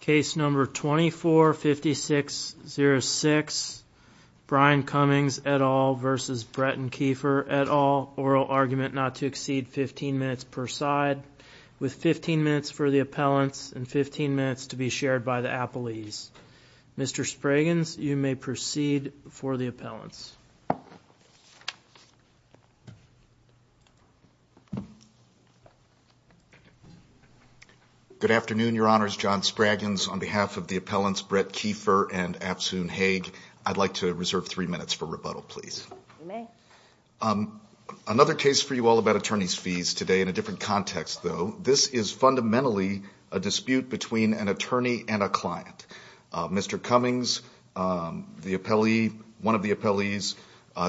Case number 245606, Brian Cummings et al. v. Bretton Keefer et al., oral argument not to exceed 15 minutes per side, with 15 minutes for the appellants and 15 minutes to be shared by the appellees. Mr. Spragans, you may proceed for the appellants. Good afternoon, Your Honors, John Spragans. On behalf of the appellants, Brett Keefer and Absoun Haig, I'd like to reserve three minutes for rebuttal, please. Another case for you all about attorney's fees today in a different context, though. This is fundamentally a dispute between an attorney and a client. Mr. Cummings, one of the appellees,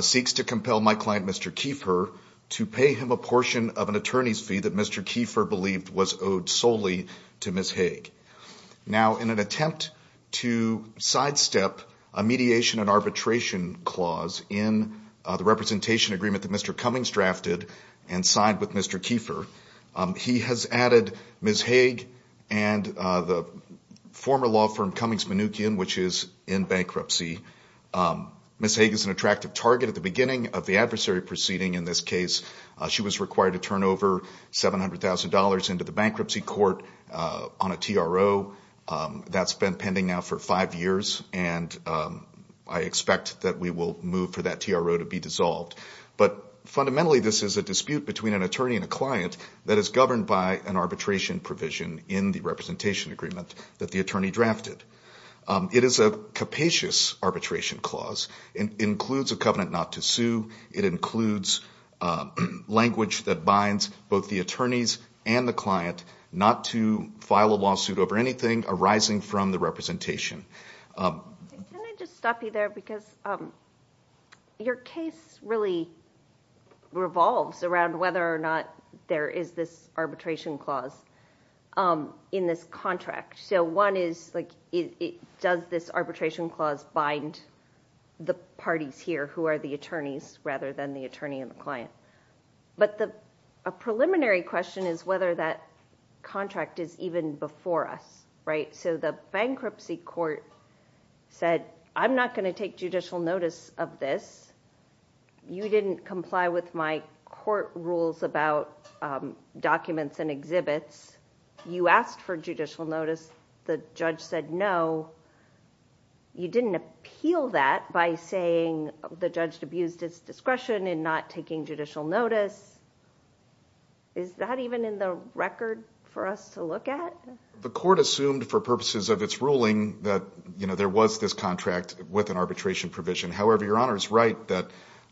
seeks to compel my client, Mr. Keefer, to pay him a portion of an attorney's fee that Mr. Keefer believed was owed solely to Ms. Haig. Now, in an attempt to sidestep a mediation and arbitration clause in the representation agreement that Mr. Cummings drafted and signed with Mr. Keefer, he has added Ms. Haig and the former law firm Cummings-Munookian, which is in bankruptcy. Ms. Haig is an attractive target at the beginning of the adversary proceeding in this case. She was required to turn over $700,000 into the bankruptcy court on a TRO. That's been pending now for five years, and I expect that we will move for that TRO to be dissolved. But fundamentally, this is a dispute between an attorney and a client that is governed by an arbitration provision in the representation agreement that the attorney drafted. It is a capacious arbitration clause. It includes a covenant not to sue. It includes language that binds both the attorneys and the client not to file a lawsuit over anything arising from the representation. Can I just stop you there? Because your case really revolves around whether or not there is this arbitration clause in this contract. So one is, like, does this arbitration clause bind the parties here who are the attorneys rather than the attorney and the client? But a preliminary question is whether that contract is even before us, right? So the bankruptcy court said, I'm not going to take judicial notice of this. You didn't comply with my court rules about documents and exhibits. You asked for judicial notice. The judge said no. You didn't appeal that by saying the judge abused his discretion in not taking judicial notice. Is that even in the record for us to look at? The court assumed for purposes of its ruling that there was this contract with an arbitration provision. However, your Honor is right that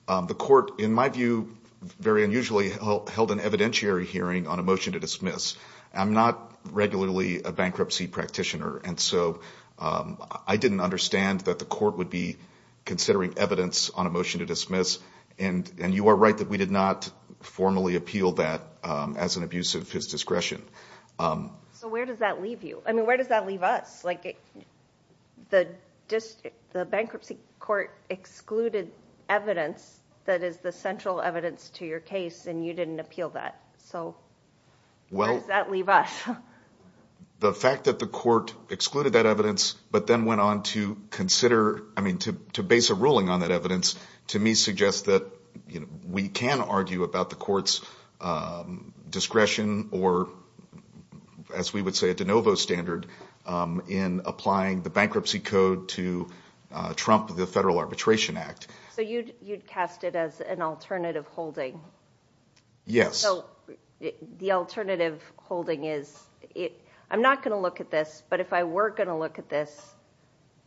the court, in my view, very unusually, held an evidentiary hearing on a motion to dismiss. I'm not regularly a bankruptcy practitioner. And so I didn't understand that the court would be considering evidence on a motion to dismiss. And you are right that we did not formally appeal that as an abuse of his discretion. So where does that leave you? I mean, where does that leave us? Like the bankruptcy court excluded evidence that is the central evidence to your case and you didn't appeal that. So where does that leave us? The fact that the court excluded that evidence, but then went on to consider, I mean, to base a ruling on that evidence, to me suggests that we can argue about the court's discretion or, as we would say, a de novo standard in applying the bankruptcy code to trump the Federal Arbitration Act. So you'd cast it as an alternative holding? Yes. So the alternative holding is, I'm not going to look at this, but if I were going to look at this,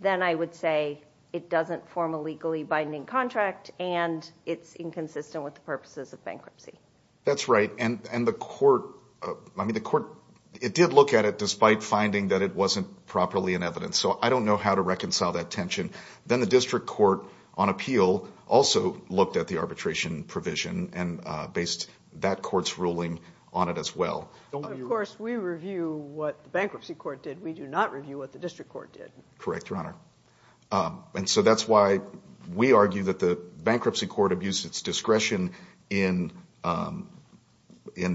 then I would say it doesn't form a legally binding contract and it's inconsistent with the purposes of bankruptcy. That's right. And the court, I mean, the court, it did look at it despite finding that it wasn't properly in evidence. So I don't know how to reconcile that tension. Then the district court on appeal also looked at the arbitration provision and based that court's ruling on it as well. Of course, we review what the bankruptcy court did. We do not review what the district court did. Correct, Your Honor. And so that's why we argue that the bankruptcy court abused its discretion in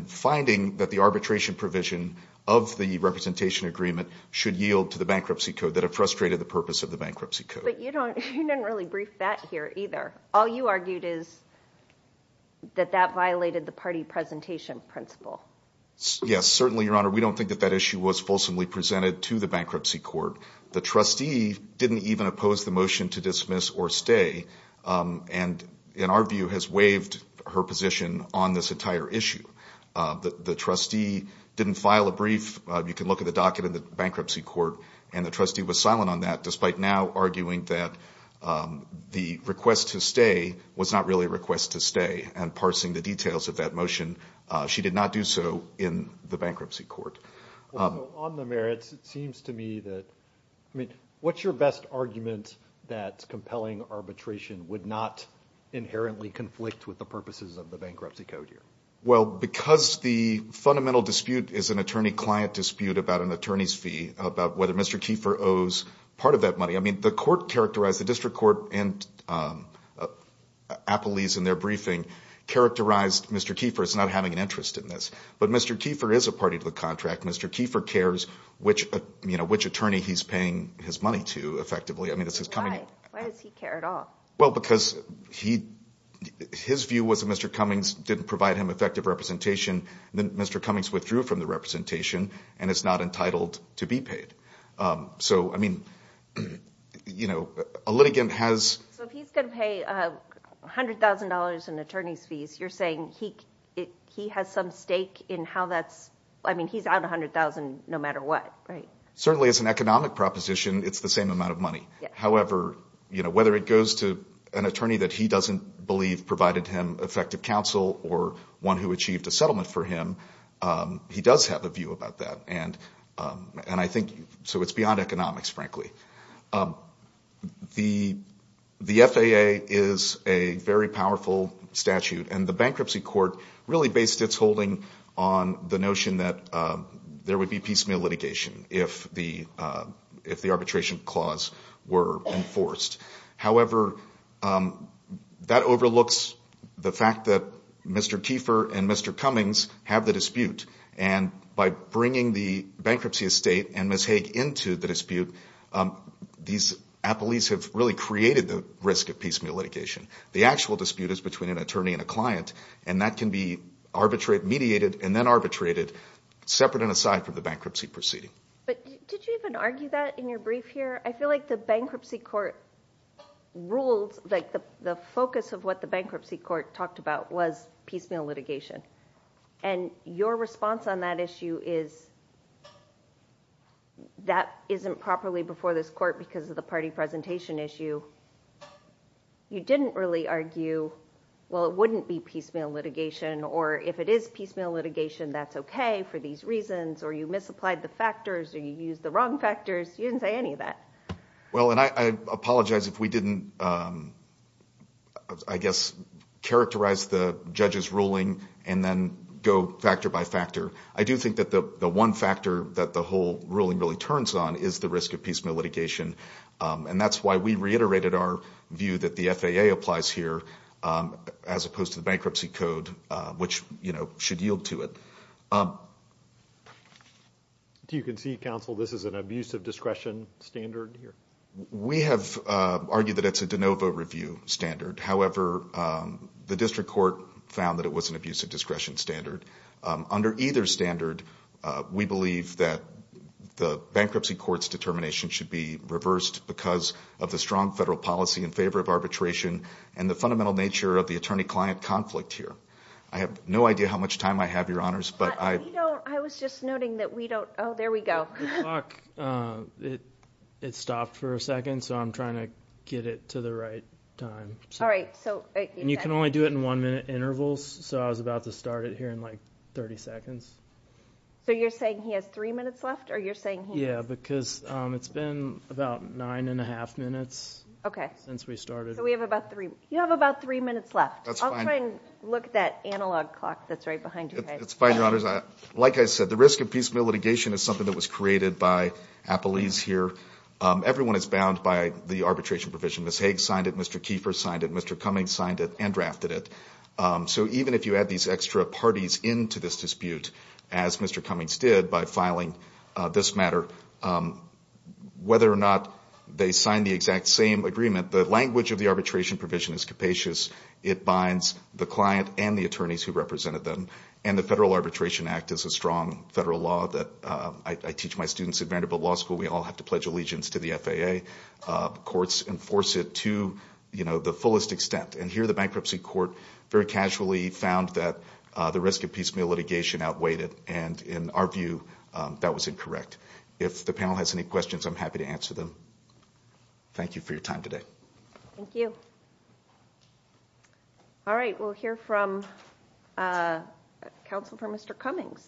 finding that the arbitration provision of the representation agreement should yield to the bankruptcy code, that it frustrated the purpose of the bankruptcy code. But you didn't really brief that here either. All you argued is that that violated the party presentation principle. Yes, certainly, Your Honor. We don't think that that issue was fulsomely presented to the bankruptcy court. The trustee didn't even oppose the motion to dismiss or stay and, in our view, has waived her position on this entire issue. The trustee didn't file a brief. You can look at the docket in the bankruptcy court, and the trustee was silent on that despite now arguing that the request to stay was not really a request to stay and parsing the details of that motion. She did not do so in the bankruptcy court. On the merits, it seems to me that, I mean, what's your best argument that compelling arbitration would not inherently conflict with the purposes of the bankruptcy code here? Well, because the fundamental dispute is an attorney-client dispute about an attorney's fee, about whether Mr. Kiefer owes part of that money. I mean, the court characterized, the district court and Applebee's in their briefing characterized Mr. Kiefer as not having an interest in this. But Mr. Kiefer is a party to the contract. Mr. Kiefer cares which attorney he's paying his money to, effectively. Why does he care at all? Well, because his view was that Mr. Cummings didn't provide him effective representation, and then Mr. Cummings withdrew from the representation, and is not entitled to be paid. So I mean, a litigant has... So if he's going to pay $100,000 in attorney's fees, you're saying he has some stake in how that's... I mean, he's out $100,000 no matter what, right? Certainly as an economic proposition, it's the same amount of money. However, whether it goes to an attorney that he doesn't believe provided him effective counsel or one who achieved a settlement for him, he does have a view about that. And I think... So it's beyond economics, frankly. The FAA is a very powerful statute, and the bankruptcy court really based its holding on the notion that there would be piecemeal litigation if the arbitration clause were enforced. However, that overlooks the fact that Mr. Kiefer and Mr. Cummings have the dispute. And by bringing the bankruptcy estate and Ms. Haig into the dispute, these appellees have really created the risk of piecemeal litigation. The actual dispute is between an attorney and a client, and that can be mediated and then arbitrated, separate and aside from the bankruptcy proceeding. But did you even argue that in your brief here? I feel like the bankruptcy court ruled that the focus of what the bankruptcy court talked about was piecemeal litigation. And your response on that issue is that isn't properly before this court because of the party presentation issue. You didn't really argue, well, it wouldn't be piecemeal litigation, or if it is piecemeal litigation, that's okay for these reasons, or you misapplied the factors, or you used the wrong factors. You didn't say any of that. Well, and I apologize if we didn't, I guess, characterize the judge's ruling and then go factor by factor. I do think that the one factor that the whole ruling really turns on is the risk of piecemeal litigation. And that's why we reiterated our view that the FAA applies here as opposed to the bankruptcy code, which should yield to it. Do you concede, counsel, this is an abuse of discretion standard here? We have argued that it's a de novo review standard. However, the district court found that it was an abuse of discretion standard. Under either standard, we believe that the bankruptcy court's determination should be reversed because of the strong federal policy in favor of arbitration and the fundamental nature of the attorney-client conflict here. I have no idea how much time I have, Your Honors, but I... I was just noting that we don't... Oh, there we go. The clock, it stopped for a second, so I'm trying to get it to the right time. All right, so... And you can only do it in one-minute intervals, so I was about to start it here in like 30 seconds. So you're saying he has three minutes left, or you're saying he has... Yeah, because it's been about nine and a half minutes since we started. So we have about three... You have about three minutes left. That's fine. I'll try and look at that analog clock that's right behind you guys. That's fine, Your Honors. Like I said, the risk of piecemeal litigation is something that was created by Appelese here. Everyone is bound by the arbitration provision. Ms. Haig signed it. Mr. Kiefer signed it. Mr. Cummings signed it and drafted it. So even if you add these extra parties into this dispute, as Mr. Cummings did by filing this matter, whether or not they signed the exact same agreement, the language of the arbitration provision is capacious. It binds the client and the attorneys who represented them, and the Federal Arbitration Act is a strong federal law that I teach my students at Vanderbilt Law School. We all have to pledge allegiance to the FAA. Courts enforce it to the fullest extent, and here the bankruptcy court very casually found that the risk of piecemeal litigation outweighed it, and in our view, that was incorrect. If the panel has any questions, I'm happy to answer them. Thank you for your time today. Thank you. All right. We'll hear from counsel for Mr. Cummings.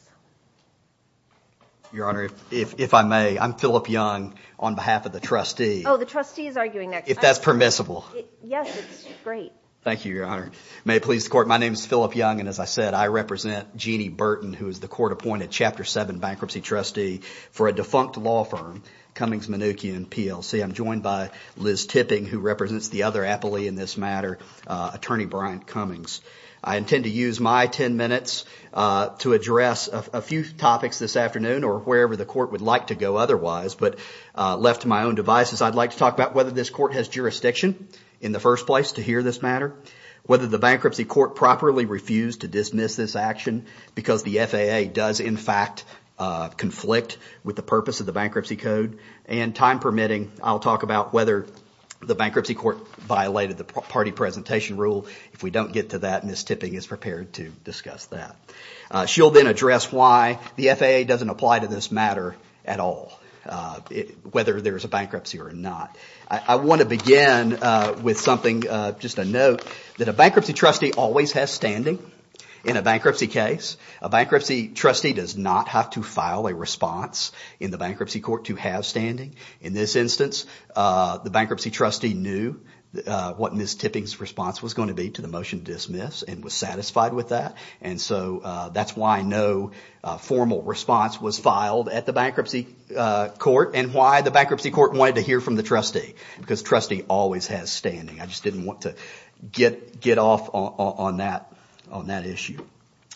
Your Honor, if I may, I'm Philip Young on behalf of the trustee. Oh, the trustee is arguing next. If that's permissible. Yes, it's great. Thank you, Your Honor. May it please the court. My name is Philip Young, and as I said, I represent Jeanne Burton, who is the court-appointed Chapter 7 bankruptcy trustee for a defunct law firm, Cummings, Mnookin, and PLC. I'm joined by Liz Tipping, who represents the other appellee in this matter, Attorney Bryant Cummings. I intend to use my 10 minutes to address a few topics this afternoon or wherever the court would like to go otherwise, but left to my own devices, I'd like to talk about whether this court has jurisdiction in the first place to hear this matter, whether the bankruptcy court properly refused to dismiss this action because the FAA does in fact conflict with the purpose of the bankruptcy code, and time permitting, I'll talk about whether the bankruptcy court violated the party presentation rule. If we don't get to that, Ms. Tipping is prepared to discuss that. She'll then address why the FAA doesn't apply to this matter at all, whether there's a bankruptcy or not. I want to begin with something, just a note, that a bankruptcy trustee always has standing in a bankruptcy case. A bankruptcy trustee does not have to file a response in the bankruptcy court to have standing. In this instance, the bankruptcy trustee knew what Ms. Tipping's response was going to be to the motion to dismiss and was satisfied with that. That's why no formal response was filed at the bankruptcy court and why the bankruptcy court wanted to hear from the trustee, because trustee always has standing. I just didn't want to get off on that issue.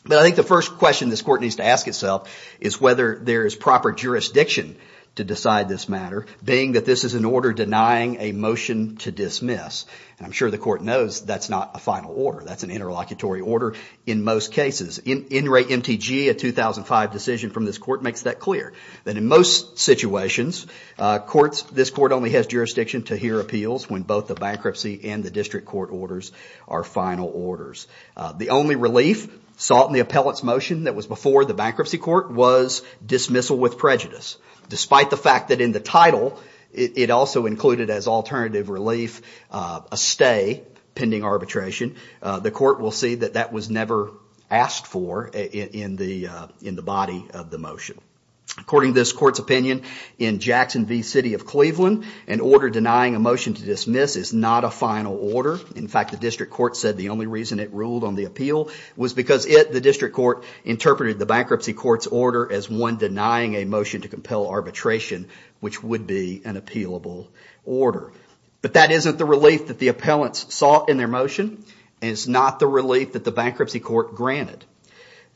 I think the first question this court needs to ask itself is whether there is proper jurisdiction to decide this matter, being that this is an order denying a motion to dismiss. I'm sure the court knows that's not a final order, that's an interlocutory order in most cases. In Ray MTG, a 2005 decision from this court, makes that clear, that in most situations, this court only has jurisdiction to hear appeals when both the bankruptcy and the district court orders are final orders. The only relief sought in the appellate's motion that was before the bankruptcy court was dismissal with prejudice, despite the fact that in the title, it also included as alternative relief, a stay pending arbitration. The court will see that that was never asked for in the body of the motion. According to this court's opinion, in Jackson V City of Cleveland, an order denying a motion to dismiss is not a final order. In fact, the district court said the only reason it ruled on the appeal was because it, the district court, interpreted the bankruptcy court's order as one denying a motion to compel arbitration, which would be an appealable order. But that isn't the relief that the appellants sought in their motion, and it's not the relief that the bankruptcy court granted.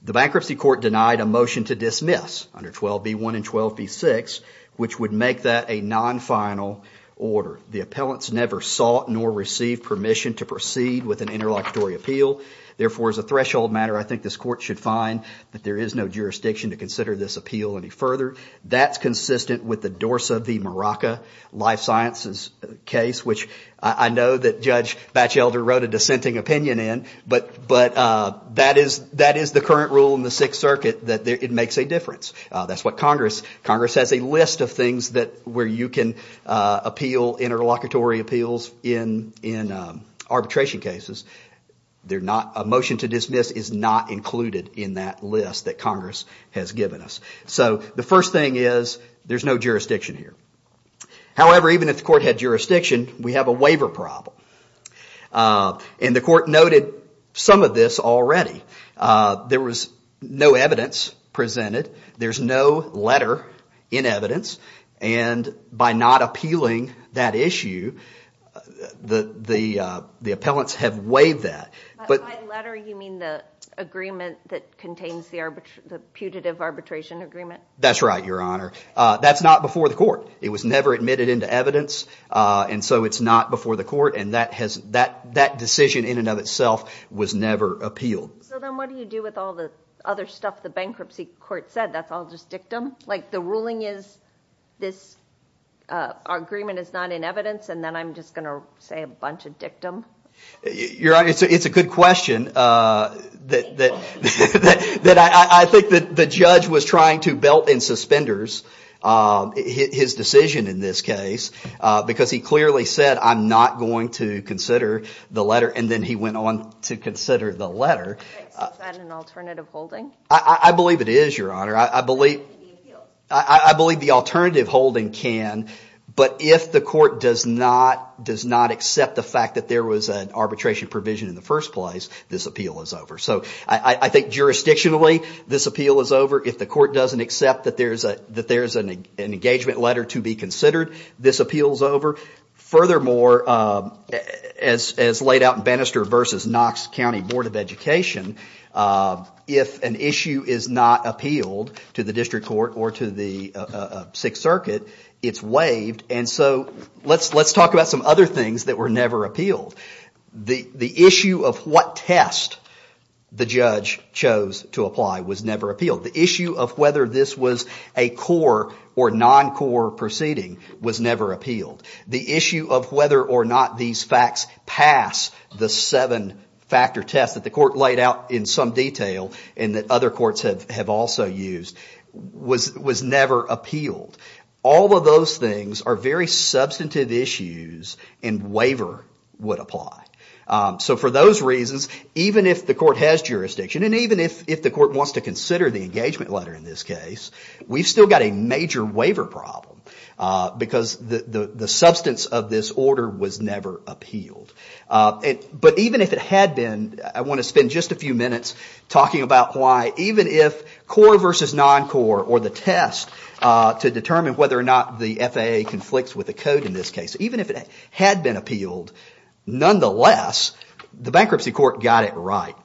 The bankruptcy court denied a motion to dismiss under 12b1 and 12b6, which would make that a non-final order. The appellants never sought nor received permission to proceed with an interlocutory appeal. Therefore, as a threshold matter, I think this court should find that there is no jurisdiction to consider this appeal any further. That's consistent with the Dorsa v. Maraca life sciences case, which I know that Judge Batchelder wrote a dissenting opinion in, but that is the current rule in the Sixth Circuit that it makes a difference. That's what Congress, Congress has a list of things that, where you can appeal interlocutory appeals in arbitration cases. They're not, a motion to dismiss is not included in that list that Congress has given us. So the first thing is, there's no jurisdiction here. However, even if the court had jurisdiction, we have a waiver problem, and the court noted some of this already. There was no evidence presented. There's no letter in evidence, and by not appealing that issue, the appellants have waived that. By letter, you mean the agreement that contains the putative arbitration agreement? That's right, Your Honor. That's not before the court. It was never admitted into evidence, and so it's not before the court, and that decision in and of itself was never appealed. So then what do you do with all the other stuff the bankruptcy court said? That's all just dictum? Like, the ruling is, this agreement is not in evidence, and then I'm just going to say a bunch of dictum? Your Honor, it's a good question. I think that the judge was trying to belt in suspenders his decision in this case, because he clearly said, I'm not going to consider the letter, and then he went on to consider the letter. Is that an alternative holding? I believe it is, Your Honor. I believe the alternative holding can, but if the court does not accept the fact that there was an arbitration provision in the first place, this appeal is over. So I think jurisdictionally, this appeal is over. If the court doesn't accept that there's an engagement letter to be considered, this appeal is over. Furthermore, as laid out in Bannister v. Knox County Board of Education, if an issue is not appealed to the district court or to the Sixth Circuit, it's waived, and so let's talk about some other things that were never appealed. The issue of what test the judge chose to apply was never appealed. The issue of whether this was a core or non-core proceeding was never appealed. The issue of whether or not these facts pass the seven-factor test that the court laid out in some detail, and that other courts have also used, was never appealed. All of those things are very substantive issues, and waiver would apply. So for those reasons, even if the court has jurisdiction, and even if the court wants to consider the engagement letter in this case, we've still got a major waiver problem because the substance of this order was never appealed. But even if it had been, I want to spend just a few minutes talking about why even if core versus non-core or the test to determine whether or not the FAA conflicts with the code in this case, even if it had been appealed, nonetheless, the bankruptcy court got it right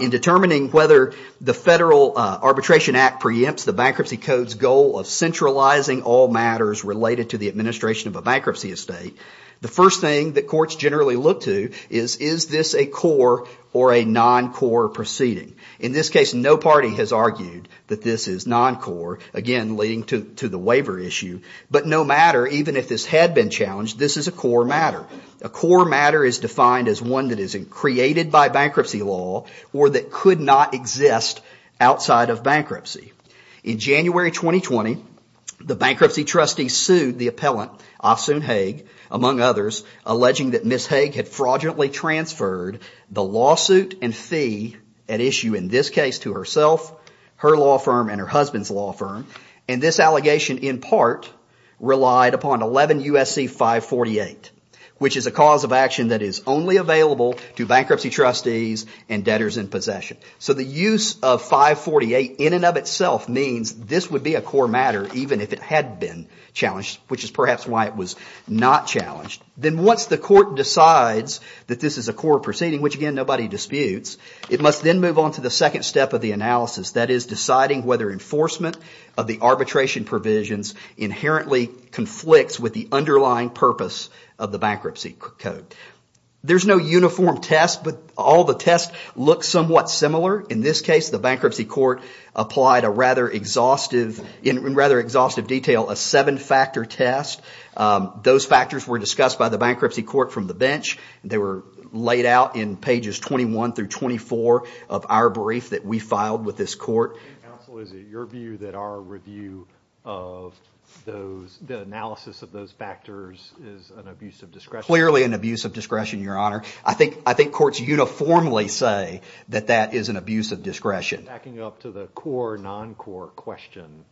in determining whether the Federal Arbitration Act preempts the bankruptcy code's goal of centralizing all matters related to the administration of a bankruptcy estate. The first thing that courts generally look to is, is this a core or a non-core proceeding? In this case, no party has argued that this is non-core, again, leading to the waiver issue, but no matter, even if this had been challenged, this is a core matter. A core matter is defined as one that is created by bankruptcy law or that could not exist outside of bankruptcy. In January 2020, the bankruptcy trustee sued the appellant, Ahsoon Haig, among others, alleging that Ms. Haig had fraudulently transferred the lawsuit and fee at issue in this case to herself, her law firm, and her husband's law firm, and this allegation in part relied upon 11 U.S.C. 548, which is a cause of action that is only available to bankruptcy trustees and debtors in possession. So the use of 548, in and of itself, means this would be a core matter, even if it had been challenged, which is perhaps why it was not challenged. Then once the court decides that this is a core proceeding, which again, nobody disputes, it must then move on to the second step of the analysis, that is, deciding whether enforcement of the arbitration provisions inherently conflicts with the underlying purpose of the bankruptcy code. There's no uniform test, but all the tests look somewhat similar. In this case, the bankruptcy court applied a rather exhaustive, in rather exhaustive detail, a seven-factor test. Those factors were discussed by the bankruptcy court from the bench. They were laid out in pages 21 through 24 of our brief that we filed with this court. So is it your view that our review of those, the analysis of those factors is an abuse of discretion? Clearly an abuse of discretion, Your Honor. I think courts uniformly say that that is an abuse of discretion. Backing up to the core, non-core question,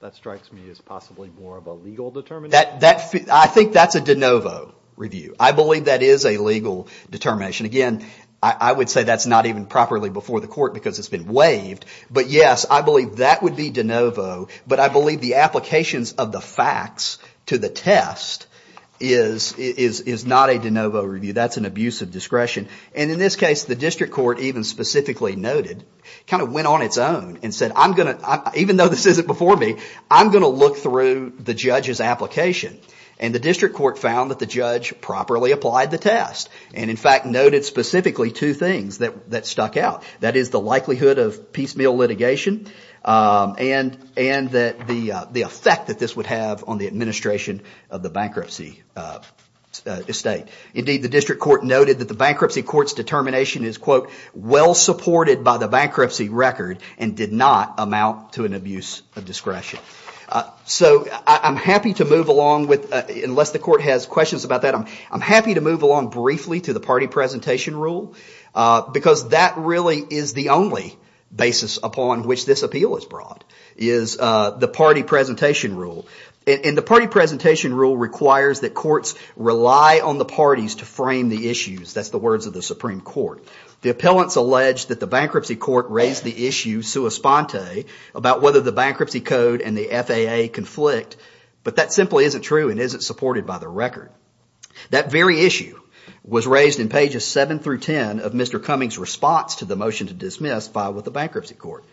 that strikes me as possibly more of a legal determination. I think that's a de novo review. I believe that is a legal determination. Again, I would say that's not even properly before the court because it's been waived, but yes, I believe that would be de novo, but I believe the applications of the facts to the test is not a de novo review. That's an abuse of discretion. In this case, the district court even specifically noted, kind of went on its own and said, even though this isn't before me, I'm going to look through the judge's application. The district court found that the judge properly applied the test and, in fact, noted specifically two things that stuck out. That is, the likelihood of piecemeal litigation and that the effect that this would have on the administration of the bankruptcy estate. Indeed, the district court noted that the bankruptcy court's determination is, quote, well supported by the bankruptcy record and did not amount to an abuse of discretion. I'm happy to move along with, unless the court has questions about that, I'm happy to move along briefly to the party presentation rule because that really is the only basis upon which this appeal is brought, is the party presentation rule. The party presentation rule requires that courts rely on the parties to frame the issues. That's the words of the Supreme Court. The appellants allege that the bankruptcy court raised the issue sua sponte about whether the bankruptcy code and the FAA conflict, but that simply isn't true and isn't supported by the record. That very issue was raised in pages 7 through 10 of Mr. Cummings' response to the motion to dismiss filed with the bankruptcy court.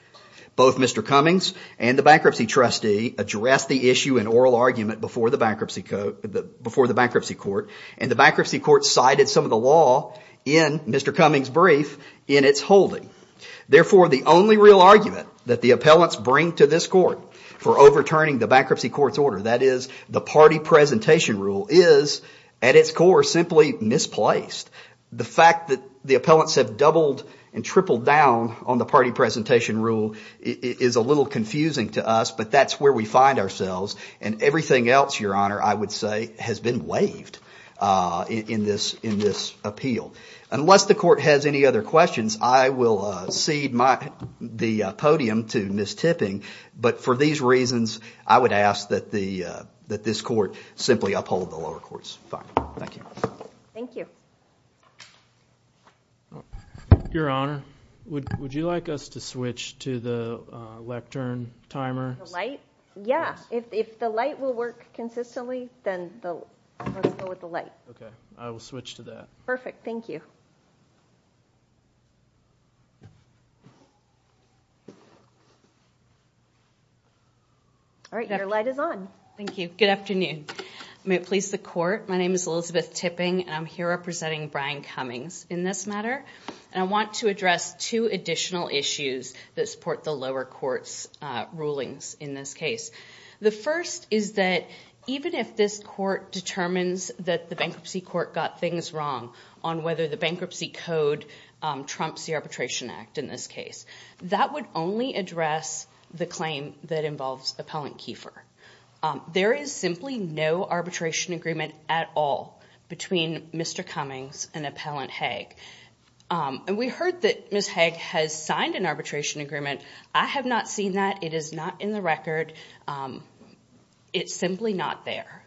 Both Mr. Cummings and the bankruptcy trustee addressed the issue in oral argument before the bankruptcy court and the bankruptcy court cited some of the law in Mr. Cummings' brief in its holding. Therefore, the only real argument that the appellants bring to this court for overturning the bankruptcy court's order, that is the party presentation rule, is at its core simply misplaced. The fact that the appellants have doubled and tripled down on the party presentation rule is a little confusing to us, but that's where we find ourselves and everything else, Your Honor, I would say has been waived in this appeal. Unless the court has any other questions, I will cede the podium to Ms. Tipping, but for these reasons, I would ask that this court simply uphold the lower courts. Fine. Thank you. Thank you. Your Honor, would you like us to switch to the lectern timer? The light? Yeah. If the light will work consistently, then I'll go with the light. Okay. I will switch to that. Perfect. Thank you. All right. Your light is on. Thank you. Good afternoon. May it please the court, my name is Elizabeth Tipping and I'm here representing Brian Cummings in this matter. I want to address two additional issues that support the lower court's rulings in this case. The first is that even if this court determines that the bankruptcy court got things wrong on whether the bankruptcy code trumps the Arbitration Act in this case, that would only address the claim that involves Appellant Kiefer. There is simply no arbitration agreement at all between Mr. Cummings and Appellant Haig. We heard that Ms. Haig has signed an arbitration agreement. I have not seen that. It is not in the record. It's simply not there.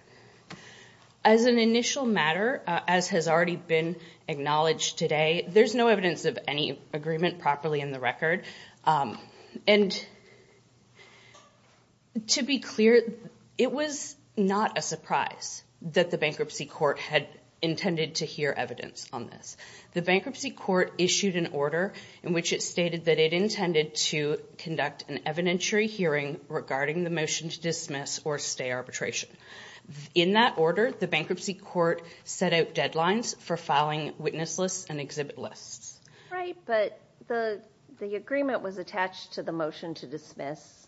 As an initial matter, as has already been acknowledged today, there is no evidence of any agreement properly in the record. To be clear, it was not a surprise that the bankruptcy court had intended to hear evidence on this. The bankruptcy court issued an order in which it stated that it intended to conduct an evidentiary hearing regarding the motion to dismiss or stay arbitration. In that order, the bankruptcy court set out deadlines for filing witness lists and exhibit lists. Right, but the agreement was attached to the motion to dismiss.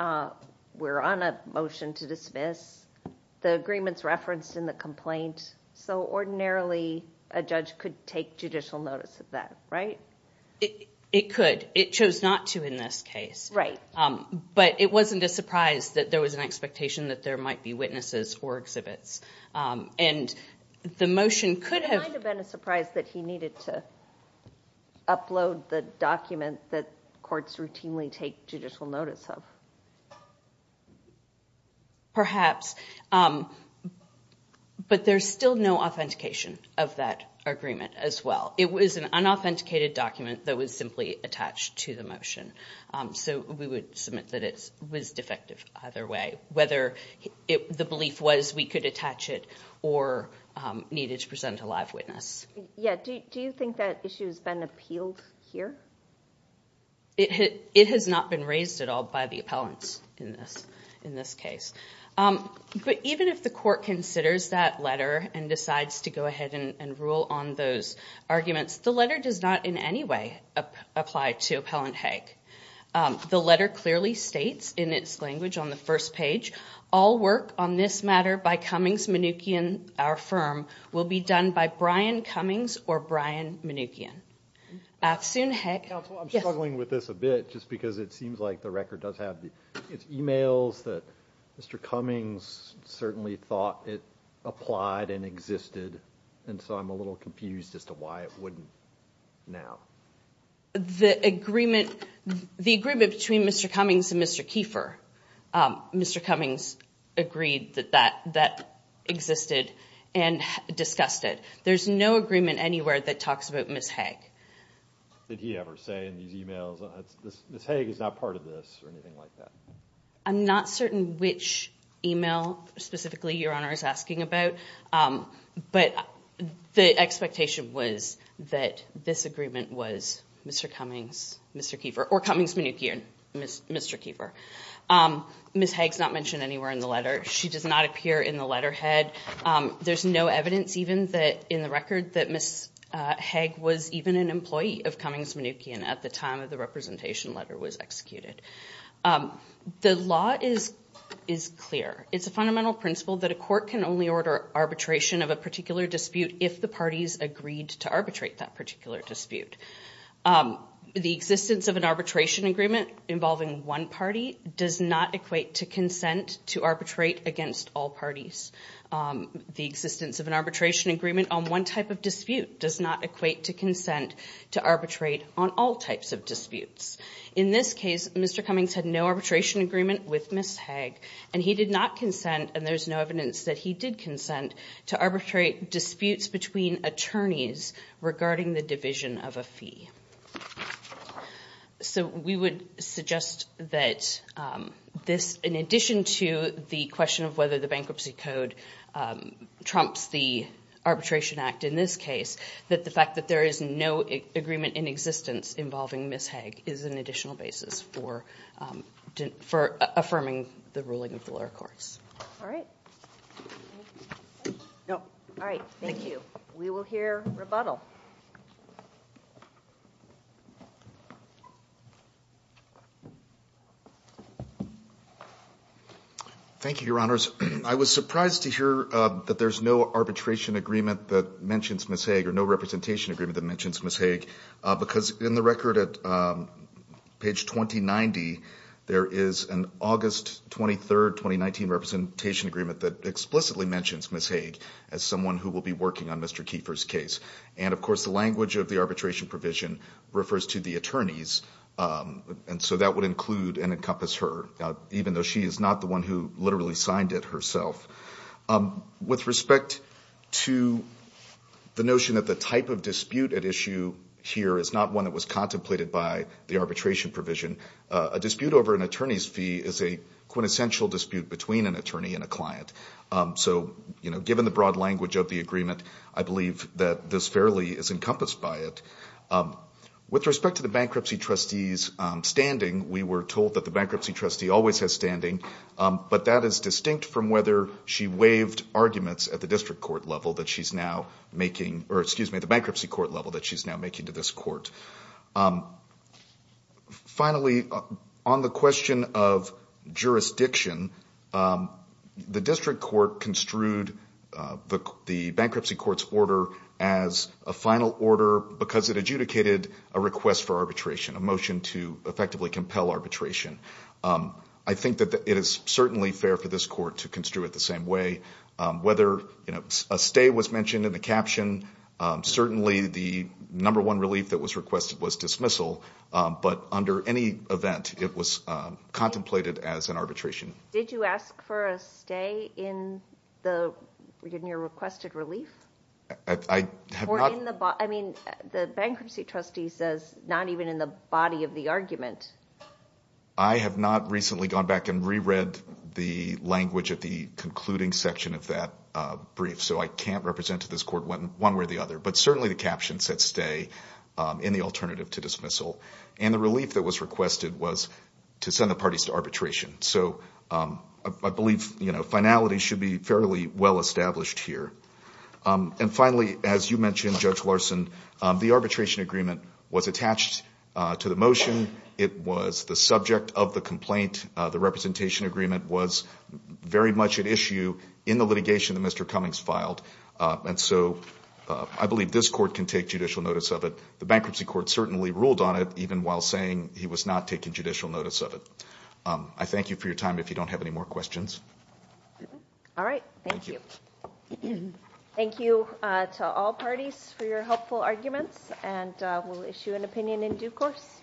We're on a motion to dismiss. The agreement is referenced in the complaint, so ordinarily a judge could take judicial notice of that, right? It could. It chose not to in this case, but it wasn't a surprise that there was an expectation that there might be witnesses or exhibits. The motion could have... It might have been a surprise that he needed to upload the document that courts routinely take judicial notice of. Perhaps, but there's still no authentication of that agreement as well. It was an unauthenticated document that was simply attached to the motion, so we would submit that it was defective either way, whether the belief was we could attach it or needed to present a live witness. Yeah. Do you think that issue has been appealed here? It has not been raised at all by the appellants in this case, but even if the court considers that letter and decides to go ahead and rule on those arguments, the letter does not in any way apply to Appellant Haig. The letter clearly states in its language on the first page, all work on this matter by Cummings, Mnuchin, our firm, will be done by Brian Cummings or Brian Mnuchin. Afsoon Haig. Counsel, I'm struggling with this a bit just because it seems like the record does have It's emails that Mr. Cummings certainly thought it applied and existed, and so I'm a little confused as to why it wouldn't now. The agreement between Mr. Cummings and Mr. Kiefer, Mr. Cummings agreed that that existed and discussed it. There's no agreement anywhere that talks about Ms. Haig. Did he ever say in these emails, Ms. Haig is not part of this or anything like that? I'm not certain which email specifically Your Honor is asking about, but the expectation was that this agreement was Mr. Cummings, Mr. Kiefer, or Cummings, Mnuchin, Mr. Kiefer. Ms. Haig's not mentioned anywhere in the letter. She does not appear in the letterhead. There's no evidence even that in the record that Ms. Haig was even an employee of Cummings, Mnuchin at the time of the representation letter was executed. The law is clear. It's a fundamental principle that a court can only order arbitration of a particular dispute if the parties agreed to arbitrate that particular dispute. The existence of an arbitration agreement involving one party does not equate to consent to arbitrate against all parties. The existence of an arbitration agreement on one type of dispute does not equate to consent to arbitrate on all types of disputes. In this case, Mr. Cummings had no arbitration agreement with Ms. Haig. He did not consent, and there's no evidence that he did consent, to arbitrate disputes between attorneys regarding the division of a fee. So, we would suggest that this, in addition to the question of whether the Bankruptcy Code trumps the Arbitration Act in this case, that the fact that there is no agreement in existence involving Ms. Haig is an additional basis for affirming the ruling of the lower courts. All right. No. All right. Thank you. We will hear rebuttal. Thank you, Your Honors. I was surprised to hear that there's no arbitration agreement that mentions Ms. Haig, or no representation agreement that mentions Ms. Haig, because in the record at page 2090, there is an August 23, 2019 representation agreement that explicitly mentions Ms. Haig as someone who will be working on Mr. Kiefer's case. And of course, the language of the arbitration provision refers to the attorneys, and so that would include and encompass her, even though she is not the one who literally signed it herself. With respect to the notion that the type of dispute at issue here is not one that was contemplated by the arbitration provision, a dispute over an attorney's fee is a quintessential dispute between an attorney and a client. So, you know, given the broad language of the agreement, I believe that this fairly is encompassed by it. With respect to the bankruptcy trustee's standing, we were told that the bankruptcy trustee always has standing, but that is distinct from whether she waived arguments at the district court level that she's now making, or excuse me, the bankruptcy court level that she's now making to this court. Finally, on the question of jurisdiction, the district court construed the bankruptcy court's order as a final order because it adjudicated a request for arbitration, a motion to effectively compel arbitration. I think that it is certainly fair for this court to construe it the same way. Whether a stay was mentioned in the caption, certainly the number one relief that was requested was dismissal, but under any event, it was contemplated as an arbitration. Did you ask for a stay in the, in your requested relief? I have not. Or in the, I mean, the bankruptcy trustee says not even in the body of the argument. I have not recently gone back and reread the language at the concluding section of that brief, so I can't represent to this court one way or the other, but certainly the caption said stay in the alternative to dismissal. And the relief that was requested was to send the parties to arbitration. So I believe, you know, finality should be fairly well established here. And finally, as you mentioned, Judge Larson, the arbitration agreement was attached to the motion. It was the subject of the complaint. The representation agreement was very much at issue in the litigation that Mr. Cummings filed. And so I believe this court can take judicial notice of it. The bankruptcy court certainly ruled on it, even while saying he was not taking judicial notice of it. I thank you for your time. If you don't have any more questions. All right. Thank you. Thank you. Thank you to all parties for your helpful arguments, and we'll issue an opinion in due course.